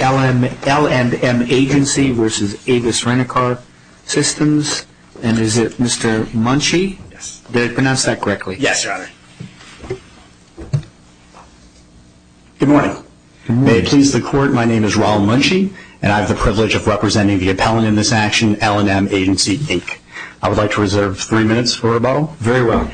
L&M Agency v. Avis Rent A Car Systems Inc. Good morning. May it please the court, my name is Raul Munchie and I have the privilege of representing the appellant in this action, L&M Agency Inc. I would like to reserve three minutes for rebuttal. Very well.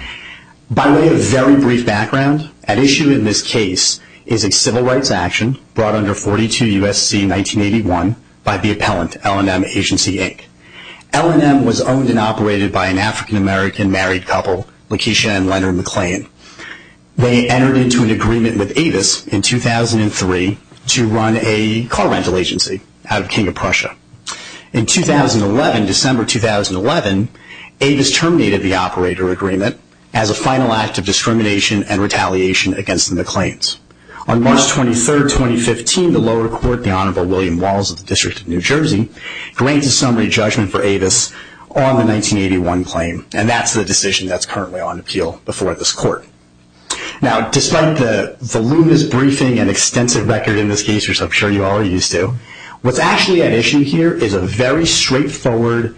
By way of very brief background, at issue in this case is a civil rights action brought under 42 U.S.C. 1981 by the appellant, L&M Agency Inc. L&M was owned and operated by an African-American married couple, Lakeisha and Leonard McClain. They entered into an agreement with Avis in 2003 to run a car rental agency out of King of Prussia. In 2011, December 2011, Avis terminated the operator agreement as a final act of discrimination and retaliation against the McClains. On March 23, 2015, the lower court, the Honorable William for Avis on the 1981 claim. And that's the decision that's currently on appeal before this court. Now, despite the voluminous briefing and extensive record in this case, which I'm sure you all are used to, what's actually at issue here is a very straightforward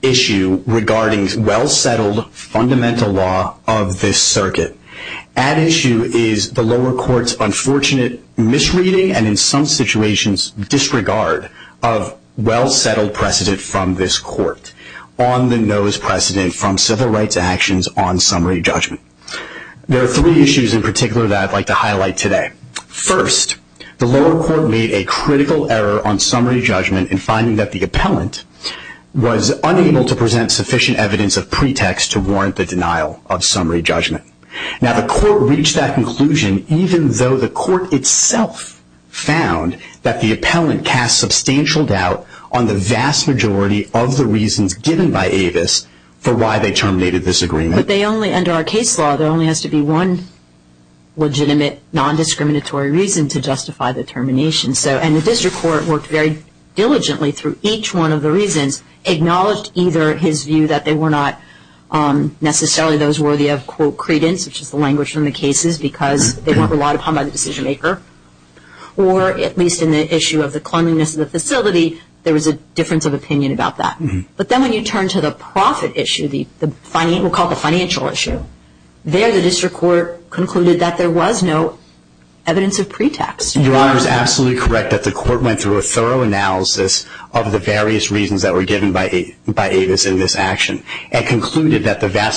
issue regarding well-settled fundamental law of this circuit. At issue is the lower court's conclusion from this court on the N.O.S.E. precedent from civil rights actions on summary judgment. There are three issues in particular that I'd like to highlight today. First, the lower court made a critical error on summary judgment in finding that the appellant was unable to present sufficient evidence of pretext to warrant the denial of summary judgment. Now, the court reached that conclusion even though the court itself found that the appellant cast substantial doubt on the vast majority of the reasons given by Avis for why they terminated this agreement. But they only, under our case law, there only has to be one legitimate, non-discriminatory reason to justify the termination. And the district court worked very diligently through each one of the reasons, acknowledged either his view that they were not necessarily those worthy of, quote, credence, which is the language from the cases, because they weren't relied upon by the decision maker. Or, at least in the issue of the cleanliness of the facility, there was a difference of opinion about that. But then when you turn to the profit issue, we'll call it the financial issue, there the district court concluded that there was no evidence of pretext. Your Honor is absolutely correct that the court went through a thorough analysis of the various reasons that were given by Avis in this action and concluded that the vast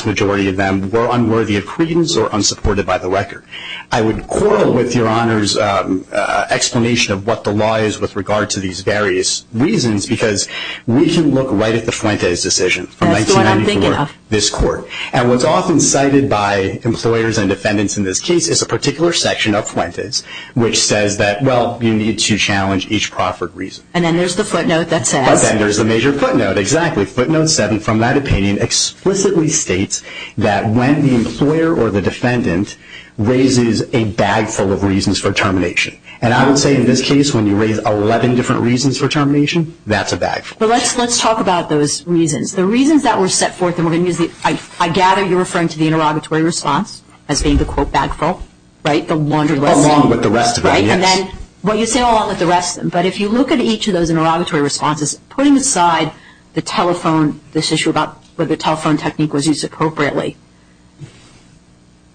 explanation of what the law is with regard to these various reasons, because we can look right at the Fuentes decision from 1994, this court, and what's often cited by employers and defendants in this case is a particular section of Fuentes, which says that, well, you need to challenge each proffered reason. And then there's the footnote that says. But then there's the major footnote, exactly. Footnote seven from that opinion explicitly states that when the employer or the defendant raises a bagful of reasons for termination. And I would say in this case, when you raise 11 different reasons for termination, that's a bagful. But let's talk about those reasons. The reasons that were set forth, I gather you're referring to the interrogatory response as being the, quote, bagful, right? The laundered residue. Along with the rest of it, yes. Right? And then what you say along with the rest, but if you look at each of those interrogatory responses, putting aside the telephone, this issue about whether the telephone technique was used appropriately,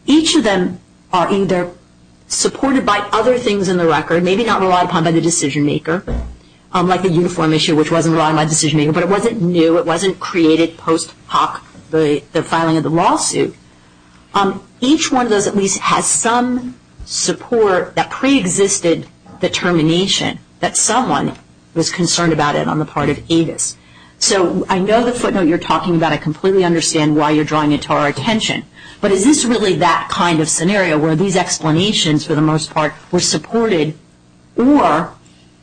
each of them are either supported by other things in the record, maybe not relied upon by the decision maker, like the uniform issue, which wasn't relied upon by the decision maker, but it wasn't new, it wasn't created post hoc, the filing of the lawsuit. Each one of those at least has some support that preexisted the termination, that someone was concerned about it on the part of Avis. So I know the footnote you're talking about, I completely understand why you're drawing it to our attention, but is this really that kind of scenario, where these explanations for the most part were supported, or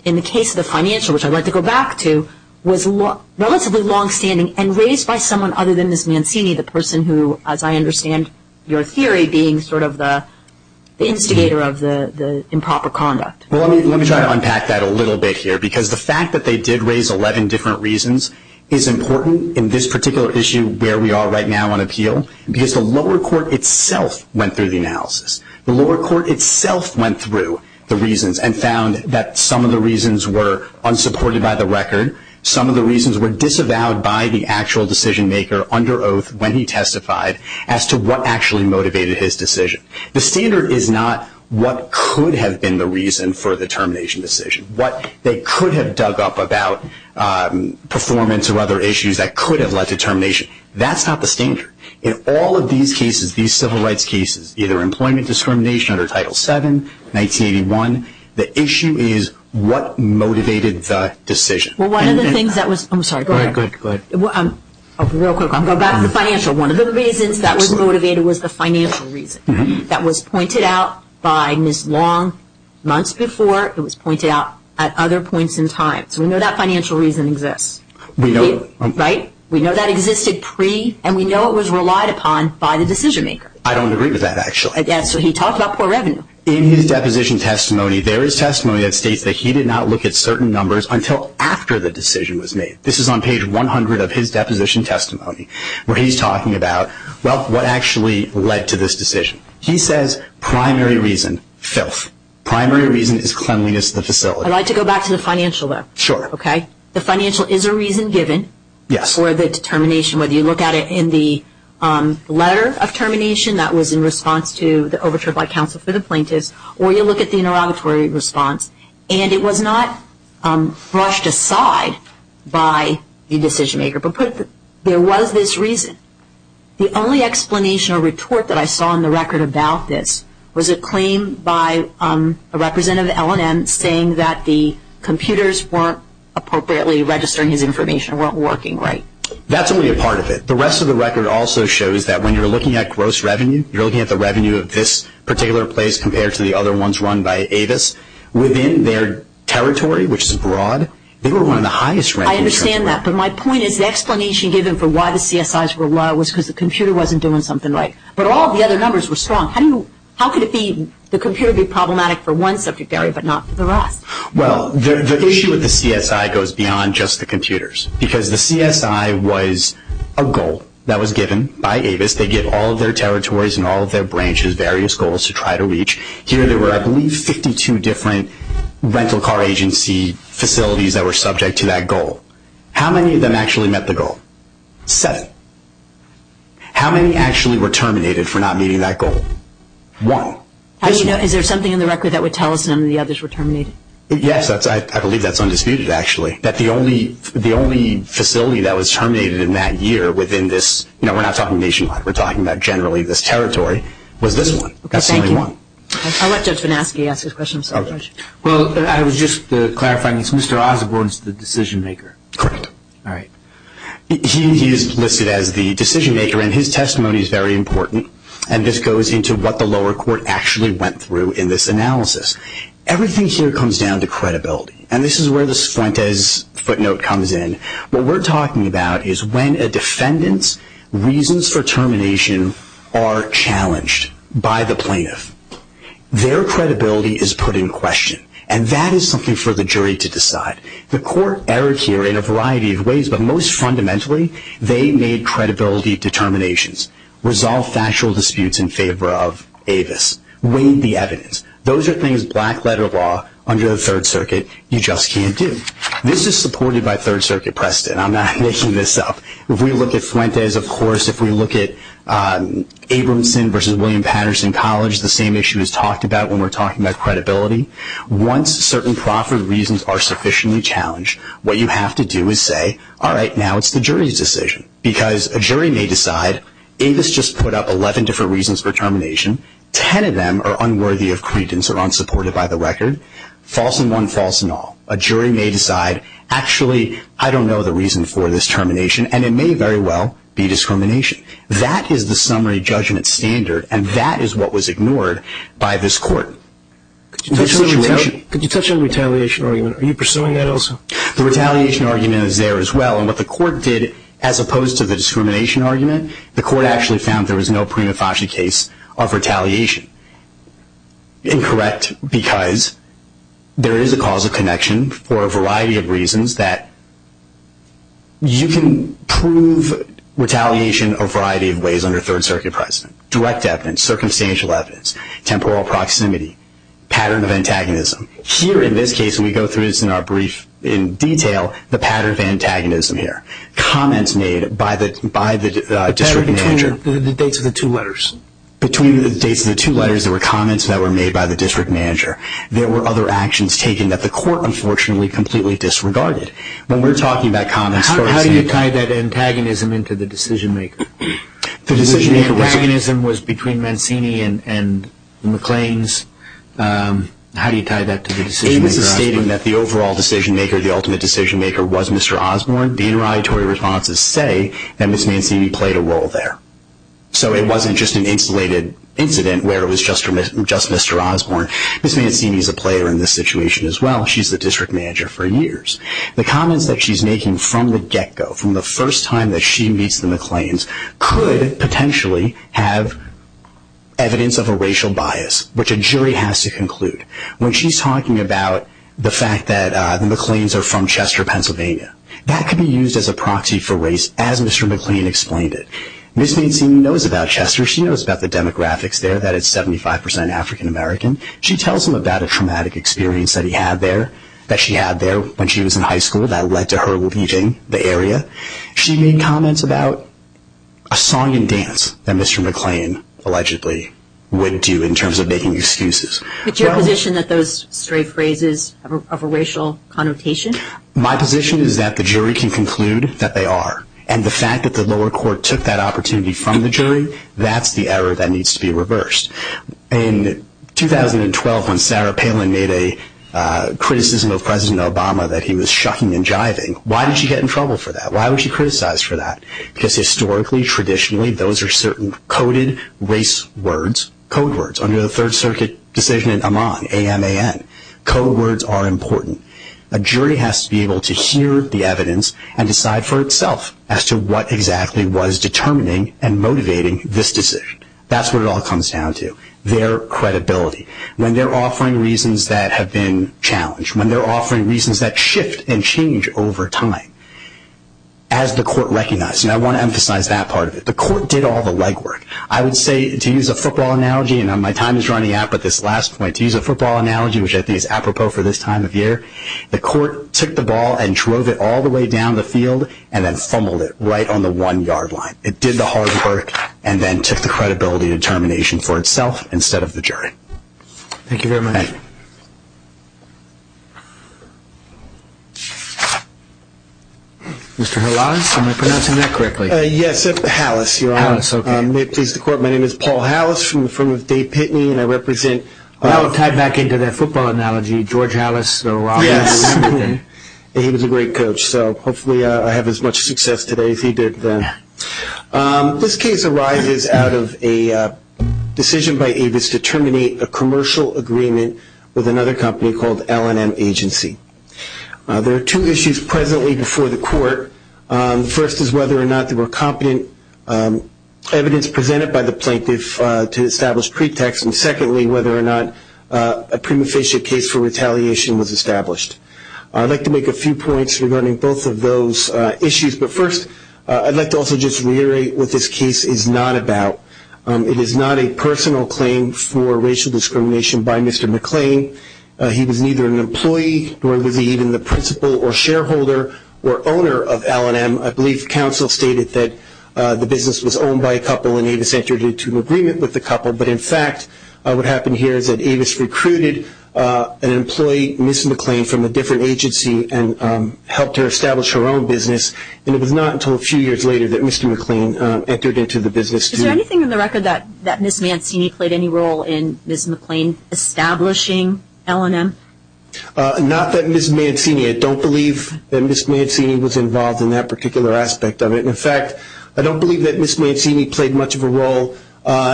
in the case of the financial, which I'd like to go back to, was relatively longstanding and raised by someone other than Ms. Mancini, the person who, as I understand your theory, being sort of the instigator of the improper conduct? Well, let me try to unpack that a little bit here, because the fact that they did raise 11 different reasons is important in this particular issue where we are right now on appeal, because the lower court itself went through the analysis. The lower court itself went through the reasons and found that some of the reasons were unsupported by the record, some of the reasons were disavowed by the actual decision maker under oath when he testified as to what actually motivated his decision. The standard is not what could have been the reason for the termination decision, what they could have dug up about performance or other issues that could have led to termination. That's not the standard. In all of these cases, these civil rights cases, either employment discrimination under Title VII, 1981, the issue is what motivated the decision. Well, one of the things that was, I'm sorry, go ahead, real quick, I'll go back to the financial. One of the reasons that was motivated was the financial reason that was pointed out by Ms. Long months before, it was pointed out at other points in time, so we know that financial reason exists, right? We know that existed pre, and we know it was relied upon by the decision maker. I don't agree with that, actually. Yeah, so he talked about poor revenue. In his deposition testimony, there is testimony that states that he did not look at certain numbers until after the decision was made. This is on page 100 of his deposition testimony where he's talking about, well, what actually led to this decision. He says primary reason, filth, primary reason is cleanliness of the facility. I'd like to go back to the financial, though. Sure. Okay? The financial is a reason given for the determination, whether you look at it in the letter of termination that was in response to the overture by counsel for the plaintiffs, or you look at the interrogatory response, and it was not brushed aside by the decision maker, but there was this reason. The only explanation or retort that I saw in the record about this was a claim by a representative of L&M saying that the computers weren't appropriately registering his information, weren't working right. That's only a part of it. The rest of the record also shows that when you're looking at gross revenue, you're looking at the revenue of this particular place compared to the other ones run by Avis. Within their territory, which is broad, they were one of the highest revenue streams. I understand that, but my point is the explanation given for why the CSIs were low was because the computer wasn't doing something right, but all the other numbers were strong. How could the computer be problematic for one subject area, but not for the rest? Well, the issue with the CSI goes beyond just the computers because the CSI was a goal that was given by Avis. They give all of their territories and all of their branches various goals to try to reach. Here, there were, I believe, 52 different rental car agency facilities that were subject to that goal. How many of them actually met the goal? Seven. How many actually were terminated for not meeting that goal? One. Is there something in the record that would tell us some of the others were terminated? Yes. I believe that's undisputed, actually, that the only facility that was terminated in that year within this – we're not talking nationwide, we're talking about generally this territory – was this one. That's the only one. Okay, thank you. I'll let Judge Vanasky ask his question. I'm sorry, Judge. Well, I was just clarifying, it's Mr. Osborne who's the decision maker? Correct. All right. He is listed as the decision maker, and his testimony is very important, and this goes into what the lower court actually went through in this analysis. Everything here comes down to credibility, and this is where this Fuentes footnote comes in. What we're talking about is when a defendant's reasons for termination are challenged by the plaintiff, their credibility is put in question, and that is something for the jury to decide. The court erred here in a variety of ways, but most fundamentally, they made credibility determinations, resolved factual disputes in favor of Avis, weighed the evidence. Those are things black-letter law under the Third Circuit, you just can't do. This is supported by Third Circuit precedent. I'm not making this up. If we look at Fuentes, of course, if we look at Abramson versus William Patterson College, the same issue is talked about when we're talking about credibility. Once certain proffered reasons are sufficiently challenged, what you have to do is say, all right, now it's the jury's decision, because a jury may decide, Avis just put up 11 different reasons for termination, 10 of them are unworthy of credence or unsupported by the record, false in one, false in all. A jury may decide, actually, I don't know the reason for this termination, and it may very well be discrimination. That is the summary judgment standard, and that is what was ignored by this court. Could you touch on the retaliation argument? Are you pursuing that also? The retaliation argument is there as well, and what the court did, as opposed to the discrimination argument, the court actually found there was no prima facie case of retaliation. Incorrect, because there is a cause of connection for a variety of reasons that you can prove retaliation a variety of ways under Third Circuit precedent. Direct evidence, circumstantial evidence, temporal proximity, pattern of antagonism. Here in this case, we go through this in our brief in detail, the pattern of antagonism here. Comments made by the district manager. The pattern between the dates of the two letters. Between the dates of the two letters, there were comments that were made by the district manager. There were other actions taken that the court, unfortunately, completely disregarded. When we're talking about comments, how do you tie that antagonism into the decision maker? The decision maker antagonism was between Mancini and McClain's. How do you tie that to the decision maker Osborne? It was a statement that the overall decision maker, the ultimate decision maker, was Mr. Osborne. The interrogatory responses say that Ms. Mancini played a role there. So it wasn't just an insulated incident where it was just Mr. Osborne. Ms. Mancini is a player in this situation as well. She's the district manager for years. The comments that she's making from the get-go, from the first time that she meets the McClains, could potentially have evidence of a racial bias, which a jury has to conclude. When she's talking about the fact that the McClains are from Chester, Pennsylvania, that could be used as a proxy for race as Mr. McClain explained it. Ms. Mancini knows about Chester. She knows about the demographics there, that it's 75% African American. She tells him about a traumatic experience that he had there, that she had there when she was in high school, that led to her leaving the area. She made comments about a song and dance that Mr. McClain allegedly would do in terms of making excuses. Is it your position that those stray phrases are of a racial connotation? My position is that the jury can conclude that they are. The fact that the lower court took that opportunity from the jury, that's the error that needs to be reversed. In 2012, when Sarah Palin made a criticism of President Obama that he was shucking and jiving, why did she get in trouble for that? Why was she criticized for that? Historically, traditionally, those are certain coded race words, code words, under the Third Circuit decision in Amman, A-M-A-N, code words are important. A jury has to be able to hear the evidence and decide for itself as to what exactly was determining and motivating this decision. That's what it all comes down to, their credibility. When they're offering reasons that have been challenged, when they're offering reasons that shift and change over time, as the court recognized, and I want to emphasize that part of it, the court did all the legwork. I would say, to use a football analogy, and my time is running out, but this last point, to use a football analogy, which I think is apropos for this time of year, the court took the ball and drove it all the way down the field and then fumbled it right on the one yard line. It did the hard work and then took the credibility and determination for itself instead of the jury. Thank you very much. Thank you. Mr. Halas? Am I pronouncing that correctly? Yes, Halas. You're on. Halas, okay. May it please the court, my name is Paul Halas from the firm of Dave Pitney and I represent That would tie back into that football analogy, George Halas, the robber. Yes. He was a great coach, so hopefully I have as much success today as he did then. This case arises out of a decision by Avis to terminate a commercial agreement with another company called L&M Agency. There are two issues presently before the court. First is whether or not there were competent evidence presented by the plaintiff to establish pretext and secondly whether or not a prima facie case for retaliation was established. I'd like to make a few points regarding both of those issues, but first I'd like to also just reiterate what this case is not about. It is not a personal claim for racial discrimination by Mr. McClain. He was neither an employee nor was he even the principal or shareholder or owner of L&M. I believe counsel stated that the business was owned by a couple and Avis entered into agreement with the couple, but in fact what happened here is that Avis recruited an employee, Ms. McClain, from a different agency and helped her establish her own business and it was not until a few years later that Mr. McClain entered into the business. Is there anything in the record that Ms. Mancini played any role in Ms. McClain establishing L&M? Not that Ms. Mancini, I don't believe that Ms. Mancini was involved in that particular aspect of it. In fact, I don't believe that Ms. Mancini played much of a role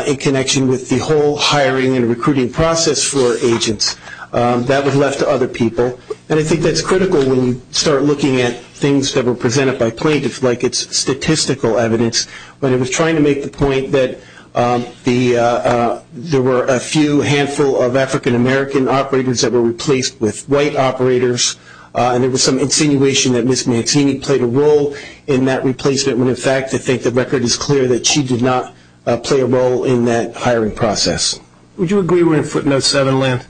in connection with the whole hiring and recruiting process for agents. That was left to other people and I think that's critical when you start looking at things that were presented by plaintiffs like it's statistical evidence, but I was trying to make the point that there were a few handful of African American operators that were replaced with white operators and there was some insinuation that Ms. Mancini played a role in that replacement when, in fact, I think the record is clear that she did not play a role in that hiring process. Would you agree we're in footnote 7 land?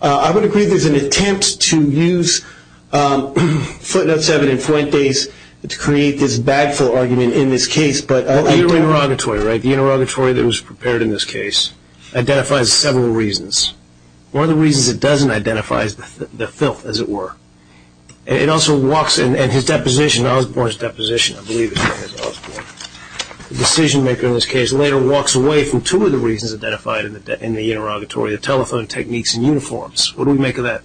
I would agree there's an attempt to use footnote 7 in flint days to create this bag fill argument in this case, but I doubt it. The interrogatory, right? The interrogatory that was prepared in this case identifies several reasons. One of the reasons it doesn't identify is the filth, as it were. It also walks, and his deposition, Osborne's deposition, I believe is Osborne, the decision maker in this case, later walks away from two of the reasons identified in the interrogatory, the telephone techniques and uniforms. What do we make of that?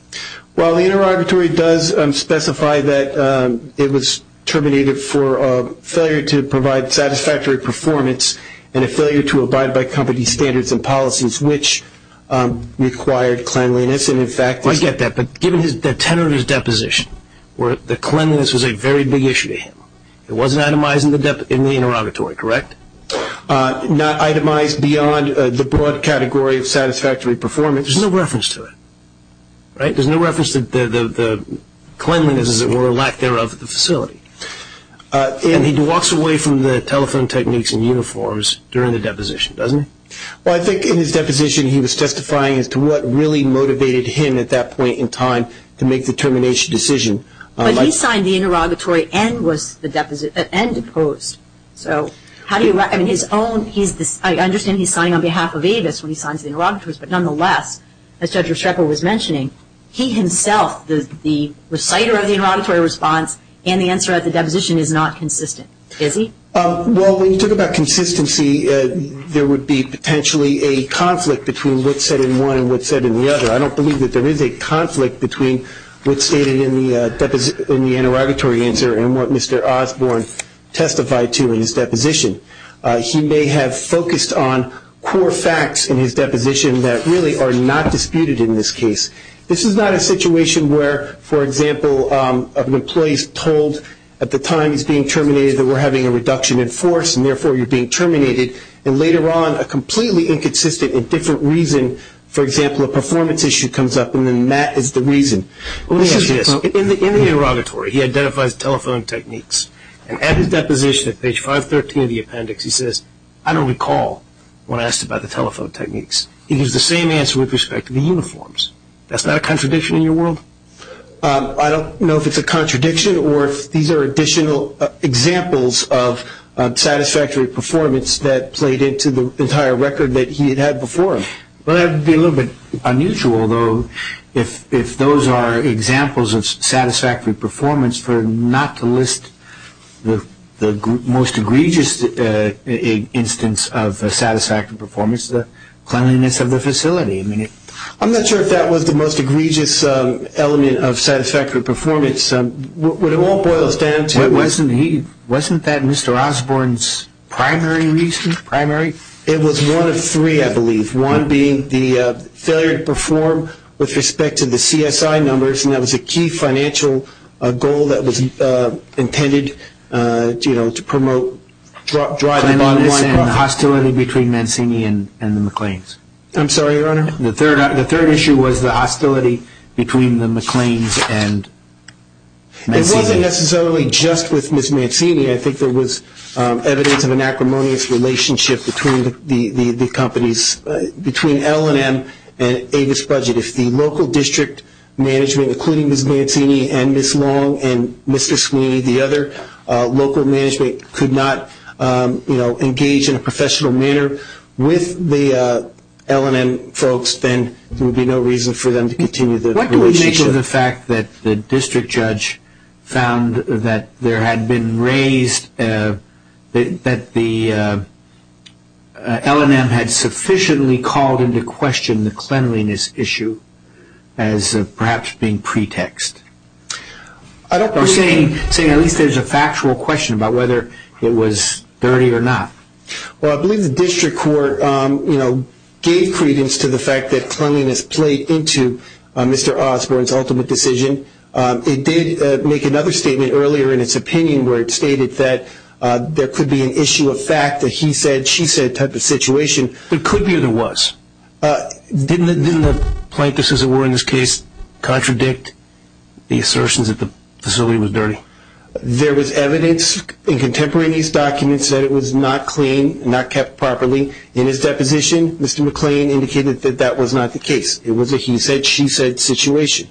Well, the interrogatory does specify that it was terminated for failure to provide satisfactory performance and a failure to abide by company standards and policies, which required cleanliness and in fact... He does get that, but given the tenor of his deposition, where the cleanliness was a very big issue to him, it wasn't itemized in the interrogatory, correct? Not itemized beyond the broad category of satisfactory performance, there's no reference to it. Right? There's no reference to the cleanliness, as it were, or lack thereof, of the facility. And he walks away from the telephone techniques and uniforms during the deposition, doesn't he? Well, I think in his deposition, he was testifying as to what really motivated him at that point in time to make the termination decision. But he signed the interrogatory and was the deposit, and deposed. So how do you, I mean, his own, he's, I understand he's signing on behalf of Avis when he signs the interrogatories, but nonetheless, as Judge Restrepo was mentioning, he himself, the reciter of the interrogatory response and the answer at the deposition is not consistent, is he? Well, when you talk about consistency, there would be potentially a conflict between what's said in one and what's said in the other. I don't believe that there is a conflict between what's stated in the interrogatory answer and what Mr. Osborne testified to in his deposition. He may have focused on core facts in his deposition that really are not disputed in this case. This is not a situation where, for example, an employee's told at the time he's being reduced in force, and therefore you're being terminated, and later on a completely inconsistent and different reason, for example, a performance issue comes up, and then that is the reason. In the interrogatory, he identifies telephone techniques, and at his deposition at page 513 of the appendix, he says, I don't recall when asked about the telephone techniques. He gives the same answer with respect to the uniforms. That's not a contradiction in your world? I don't know if it's a contradiction or if these are additional examples of satisfactory performance that played into the entire record that he had before him. That would be a little bit unusual, though, if those are examples of satisfactory performance for not to list the most egregious instance of satisfactory performance, the cleanliness of the facility. I'm not sure if that was the most egregious element of satisfactory performance. It all boils down to... Wasn't that Mr. Osborne's primary reason? It was one of three, I believe. One being the failure to perform with respect to the CSI numbers, and that was a key financial goal that was intended to promote dryness... Cleanliness and hostility between Mancini and the McLeans. I'm sorry, Your Honor? The third issue was the hostility between the McLeans and Mancini. It wasn't necessarily just with Ms. Mancini. I think there was evidence of an acrimonious relationship between the companies, between L&M and Avis Budget. If the local district management, including Ms. Mancini and Ms. Long and Mr. Sweeney, the other local management, could not engage in a professional manner with the L&M folks, then there would be no reason for them to continue the relationship. What do we make of the fact that the district judge found that L&M had sufficiently called into question the cleanliness issue as perhaps being pretext? You're saying at least there's a factual question about whether it was dirty or not. Well, I believe the district court gave credence to the fact that cleanliness played into Mr. Osborne's ultimate decision. It did make another statement earlier in its opinion where it stated that there could be an issue of fact that he said, she said type of situation. There could be or there was. Didn't the plaintiffs, as it were in this case, contradict the assertions that the facility was dirty? There was evidence in contemporaneous documents that it was not clean, not kept properly. In his deposition, Mr. McLean indicated that that was not the case. It was a he said, she said situation.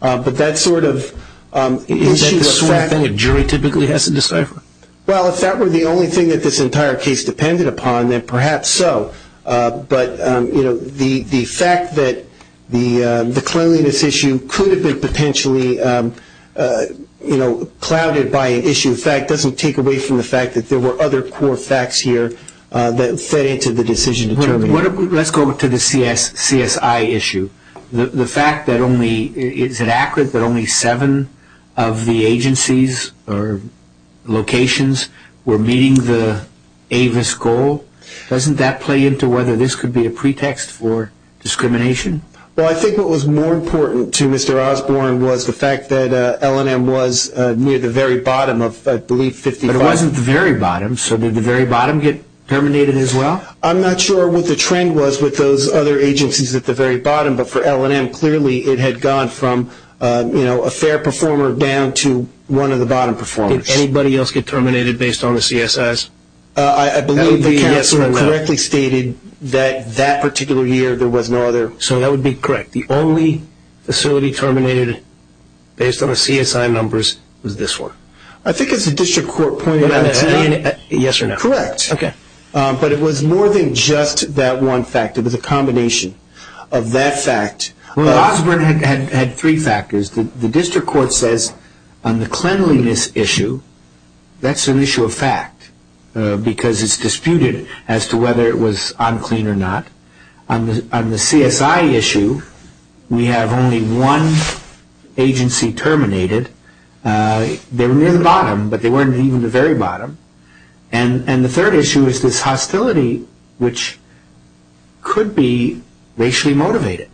But that sort of issue of fact... Is that the sort of thing a jury typically has to decipher? Well, if that were the only thing that this entire case depended upon, then perhaps so. But the fact that the cleanliness issue could have been potentially clouded by an issue of fact doesn't take away from the fact that there were other core facts here that fed into the decision. Let's go to the CSI issue. The fact that only... Is it accurate that only seven of the agencies or locations were meeting the AVIS goal? Doesn't that play into whether this could be a pretext for discrimination? Well, I think what was more important to Mr. Osborne was the fact that L&M was near the very bottom of, I believe, 55... But it wasn't the very bottom, so did the very bottom get terminated as well? I'm not sure what the trend was with those other agencies at the very bottom, but for L&M, clearly it had gone from a fair performer down to one of the bottom performers. Did anybody else get terminated based on the CSIs? I believe the counselor correctly stated that that particular year there was no other... So that would be correct. The only facility terminated based on the CSI numbers was this one. I think it's the district court pointing out... Yes or no? Correct. Okay. But it was more than just that one fact. It was a combination of that fact... Well, Osborne had three factors. The district court says on the cleanliness issue, that's an issue of fact, because it's disputed as to whether it was unclean or not. On the CSI issue, we have only one agency terminated. They were near the bottom, but they weren't even the very bottom. And the third issue is this hostility, which could be racially motivated.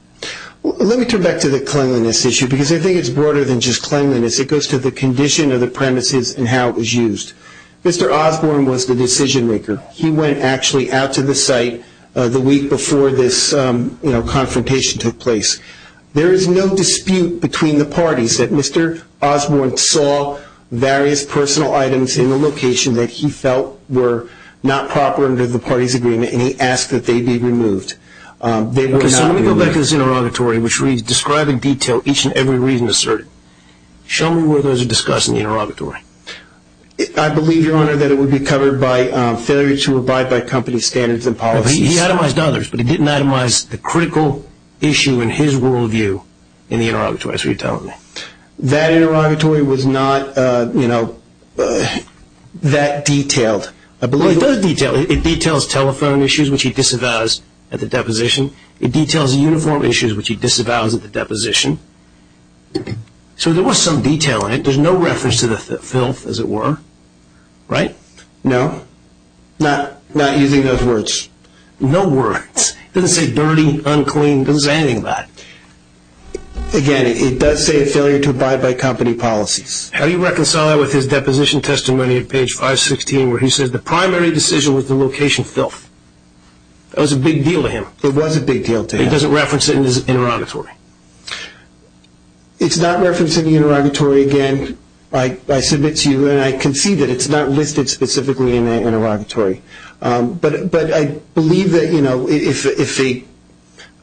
Let me turn back to the cleanliness issue, because I think it's broader than just cleanliness. It goes to the condition of the premises and how it was used. Mr. Osborne was the decision-maker. He went actually out to the site the week before this confrontation took place. There is no dispute between the parties that Mr. Osborne saw various personal items in the location that he felt were not proper under the party's agreement, and he asked that they be removed. Let me go back to this interrogatory, which reads, describe in detail each and every reason asserted. Show me where those are discussed in the interrogatory. I believe, Your Honor, that it would be covered by failure to abide by company standards and policies. He itemized others, but he didn't itemize the critical issue in his worldview in the interrogatory. That's what you're telling me. That interrogatory was not that detailed. It does detail. It details telephone issues, which he disavows at the deposition. It details uniform issues, which he disavows at the deposition. So there was some detail in it. There's no reference to the filth, as it were. Right? No? Not using those words? No words. It doesn't say dirty, unclean. It doesn't say anything about it. Again, it does say failure to abide by company policies. How do you reconcile that with his deposition testimony at page 516, where he says the primary decision was the location filth? That was a big deal to him. It was a big deal to him. It doesn't reference it in his interrogatory. It's not referenced in the interrogatory, again. I submit to you, and I concede that it's not listed specifically in the interrogatory. But I believe that, you know, if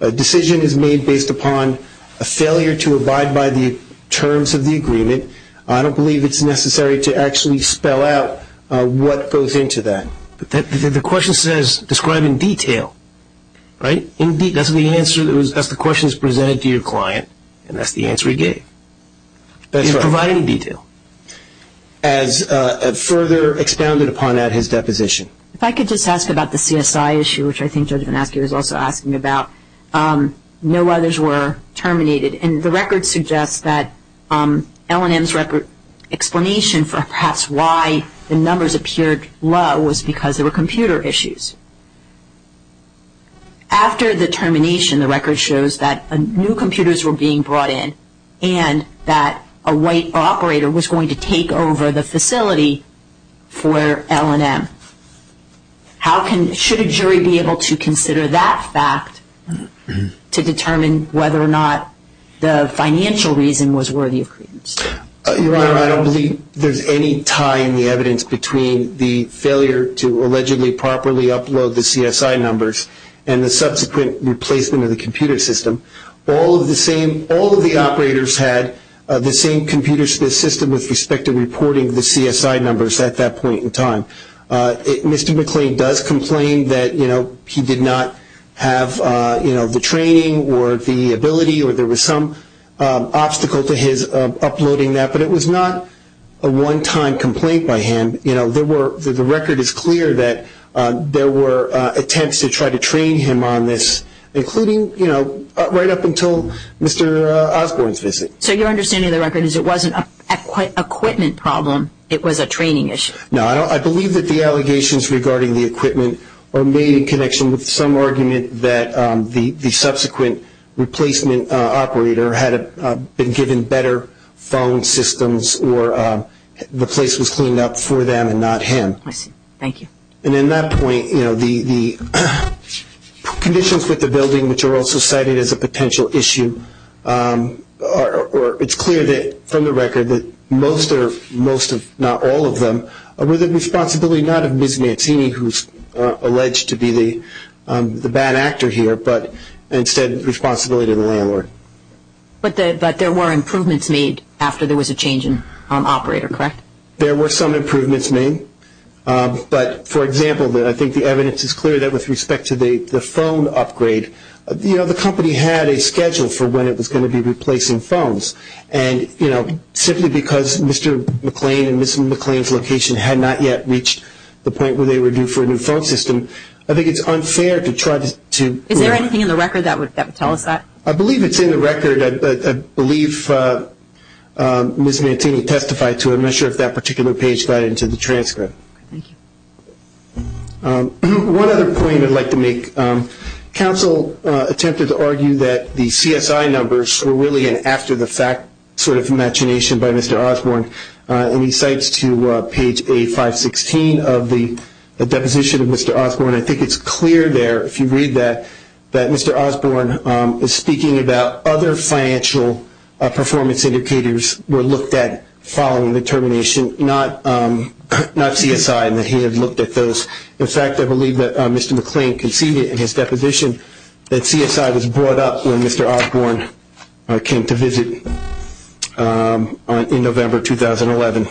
a decision is made based upon a failure to abide by the terms of the agreement, I don't believe it's necessary to actually spell out what goes into that. The question says describe in detail. Right? That's the question that was presented to your client, and that's the answer he gave. That's right. Provide in detail. As further expounded upon at his deposition. If I could just ask about the CSI issue, which I think Judge VanAskey was also asking about. No others were terminated, and the record suggests that L&M's record explanation for perhaps why the numbers appeared low was because there were computer issues. After the termination, the record shows that new computers were being brought in and that a white operator was going to take over the facility for L&M. How can, should a jury be able to consider that fact to determine whether or not the financial reason was worthy of credence? Your Honor, I don't believe there's any tie in the evidence between the failure to allegedly properly upload the CSI numbers and the subsequent replacement of the computer system. All of the operators had the same computer system with respect to reporting the CSI numbers at that point in time. Mr. McClain does complain that he did not have the training or the ability or there was some obstacle to his uploading that, but it was not a one-time complaint by him. The record is clear that there were attempts to try to train him on this, including right up until Mr. Osborne's visit. So your understanding of the record is it wasn't a equipment problem, it was a training issue? No, I believe that the allegations regarding the equipment are made in connection with some argument that the subsequent replacement operator had been given better phone systems or the place was cleaned up for them and not him. I see. Thank you. And in that point, the conditions with the building, which are also cited as a potential issue, it's clear from the record that most, if not all of them, were the responsibility not of Ms. Mancini, who's alleged to be the bad actor here, but instead the responsibility of the landlord. But there were improvements made after there was a change in operator, correct? There were some improvements made, but, for example, I think the evidence is clear that with respect to the phone upgrade, the company had a schedule for when it was going to be replacing phones, and simply because Mr. McLean and Ms. McLean's location had not yet reached the point where they were due for a new phone system, I think it's unfair to try to... Is there anything in the record that would tell us that? I believe it's in the record. I believe Ms. Mancini testified to it. I'm not sure if that particular page got into the transcript. Thank you. One other point I'd like to make. Counsel attempted to argue that the CSI numbers were really an after-the-fact sort of imagination by Mr. Osborne, and he cites to page A516 of the deposition of Mr. Osborne. I think it's clear there, if you read that, that Mr. Osborne is speaking about other financial performance indicators were looked at following the termination, not CSI, and that he had looked at those. In fact, I believe that Mr. McLean conceded in his deposition that CSI was brought up when Mr. Osborne came to visit in November 2011.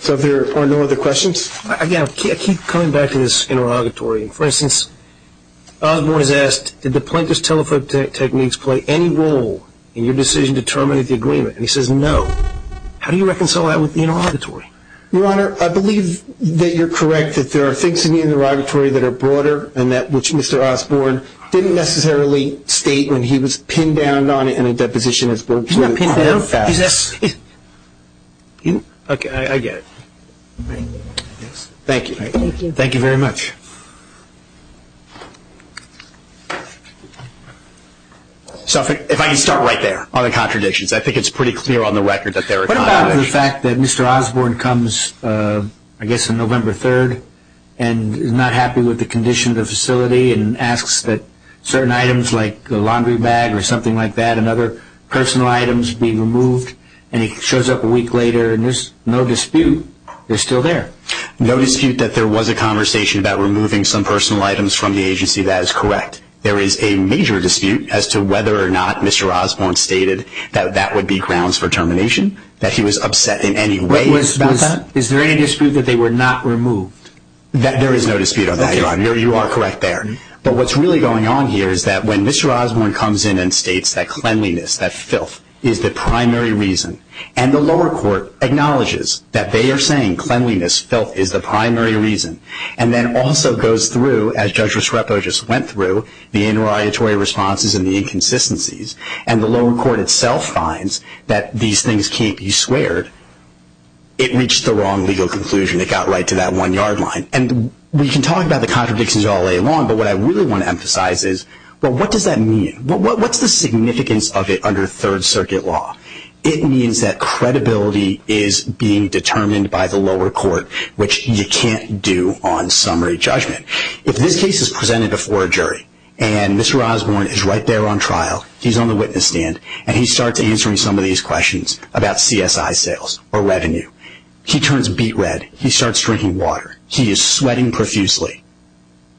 So are there no other questions? Again, I keep coming back to this interrogatory. For instance, Osborne is asked, did the plaintiff's telephone techniques play any role in your decision to terminate the agreement? And he says no. How do you reconcile that with the interrogatory? Your Honor, I believe that you're correct that there are things in the interrogatory that are broader and that which Mr. Osborne didn't necessarily state when he was pinned down on it in a deposition. He's not pinned down? Okay, I get it. Thank you. Thank you very much. If I can start right there on the contradictions, I think it's pretty clear on the record that there are contradictions. What about the fact that Mr. Osborne comes, I guess, on November 3rd and is not happy with the condition of the facility and asks that certain items like the laundry bag or something like that and other personal items be removed, and he shows up a week later and there's no dispute. They're still there. No dispute that there was a conversation about removing some personal items from the agency. That is correct. There is a major dispute as to whether or not Mr. Osborne stated that that would be grounds for termination, that he was upset in any way about that. Is there any dispute that they were not removed? There is no dispute on that, Your Honor. You are correct there. But what's really going on here is that when Mr. Osborne comes in and states that cleanliness, that filth, is the primary reason, and the lower court acknowledges that they are saying cleanliness, filth, is the primary reason, and then also goes through, as Judge Rusrepo just went through, the interrogatory responses and the inconsistencies, and the lower court itself finds that these things can't be sweared, it reached the wrong legal conclusion. It got right to that one-yard line. And we can talk about the contradictions all day long, but what I really want to emphasize is, well, what does that mean? What's the significance of it under Third Circuit law? It means that credibility is being determined by the lower court, which you can't do on summary judgment. If this case is presented before a jury, and Mr. Osborne is right there on trial, he's on the witness stand, and he starts answering some of these questions about CSI sales or revenue, he turns beet red, he starts drinking water, he is sweating profusely.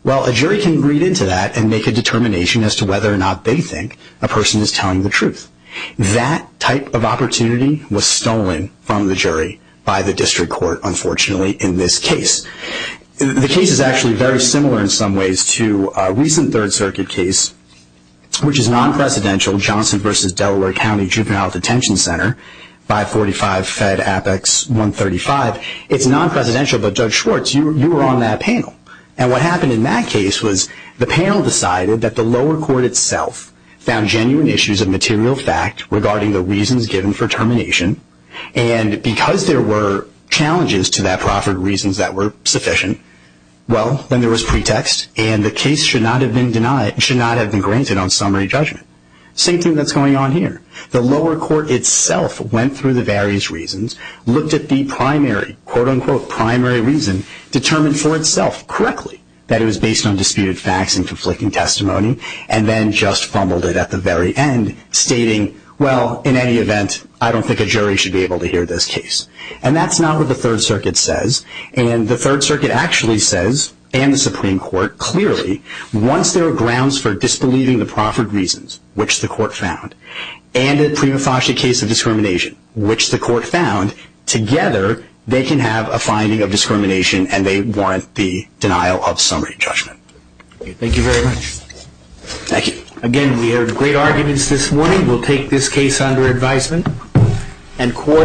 Well, a jury can read into that and make a determination as to whether or not they think a person is telling the truth. That type of opportunity was stolen from the jury by the district court, unfortunately, in this case. The case is actually very similar in some ways to a recent Third Circuit case, which is non-presidential, Johnson v. Delaware County Juvenile Detention Center, 545 Fed Apex 135. It's non-presidential, but Judge Schwartz, you were on that panel, and what happened in that case was the panel decided that the lower court itself found genuine issues of material fact regarding the reasons given for termination, and because there were challenges to that proffered reasons that were sufficient, well, then there was pretext, and the case should not have been granted on summary judgment. Same thing that's going on here. The lower court itself went through the various reasons, looked at the primary, quote-unquote primary reason, determined for itself correctly that it was based on disputed facts and conflicting testimony, and then just fumbled it at the very end, stating, well, in any event, I don't think a jury should be able to hear this case. And that's not what the Third Circuit says, and the Third Circuit actually says, and the Supreme Court, clearly, once there are grounds for disbelieving the proffered reasons, which the court found, and a prima facie case of discrimination, which the court found, together they can have a finding of discrimination and they warrant the denial of summary judgment. Thank you very much. Thank you. Again, we heard great arguments this morning. We'll take this case under advisement.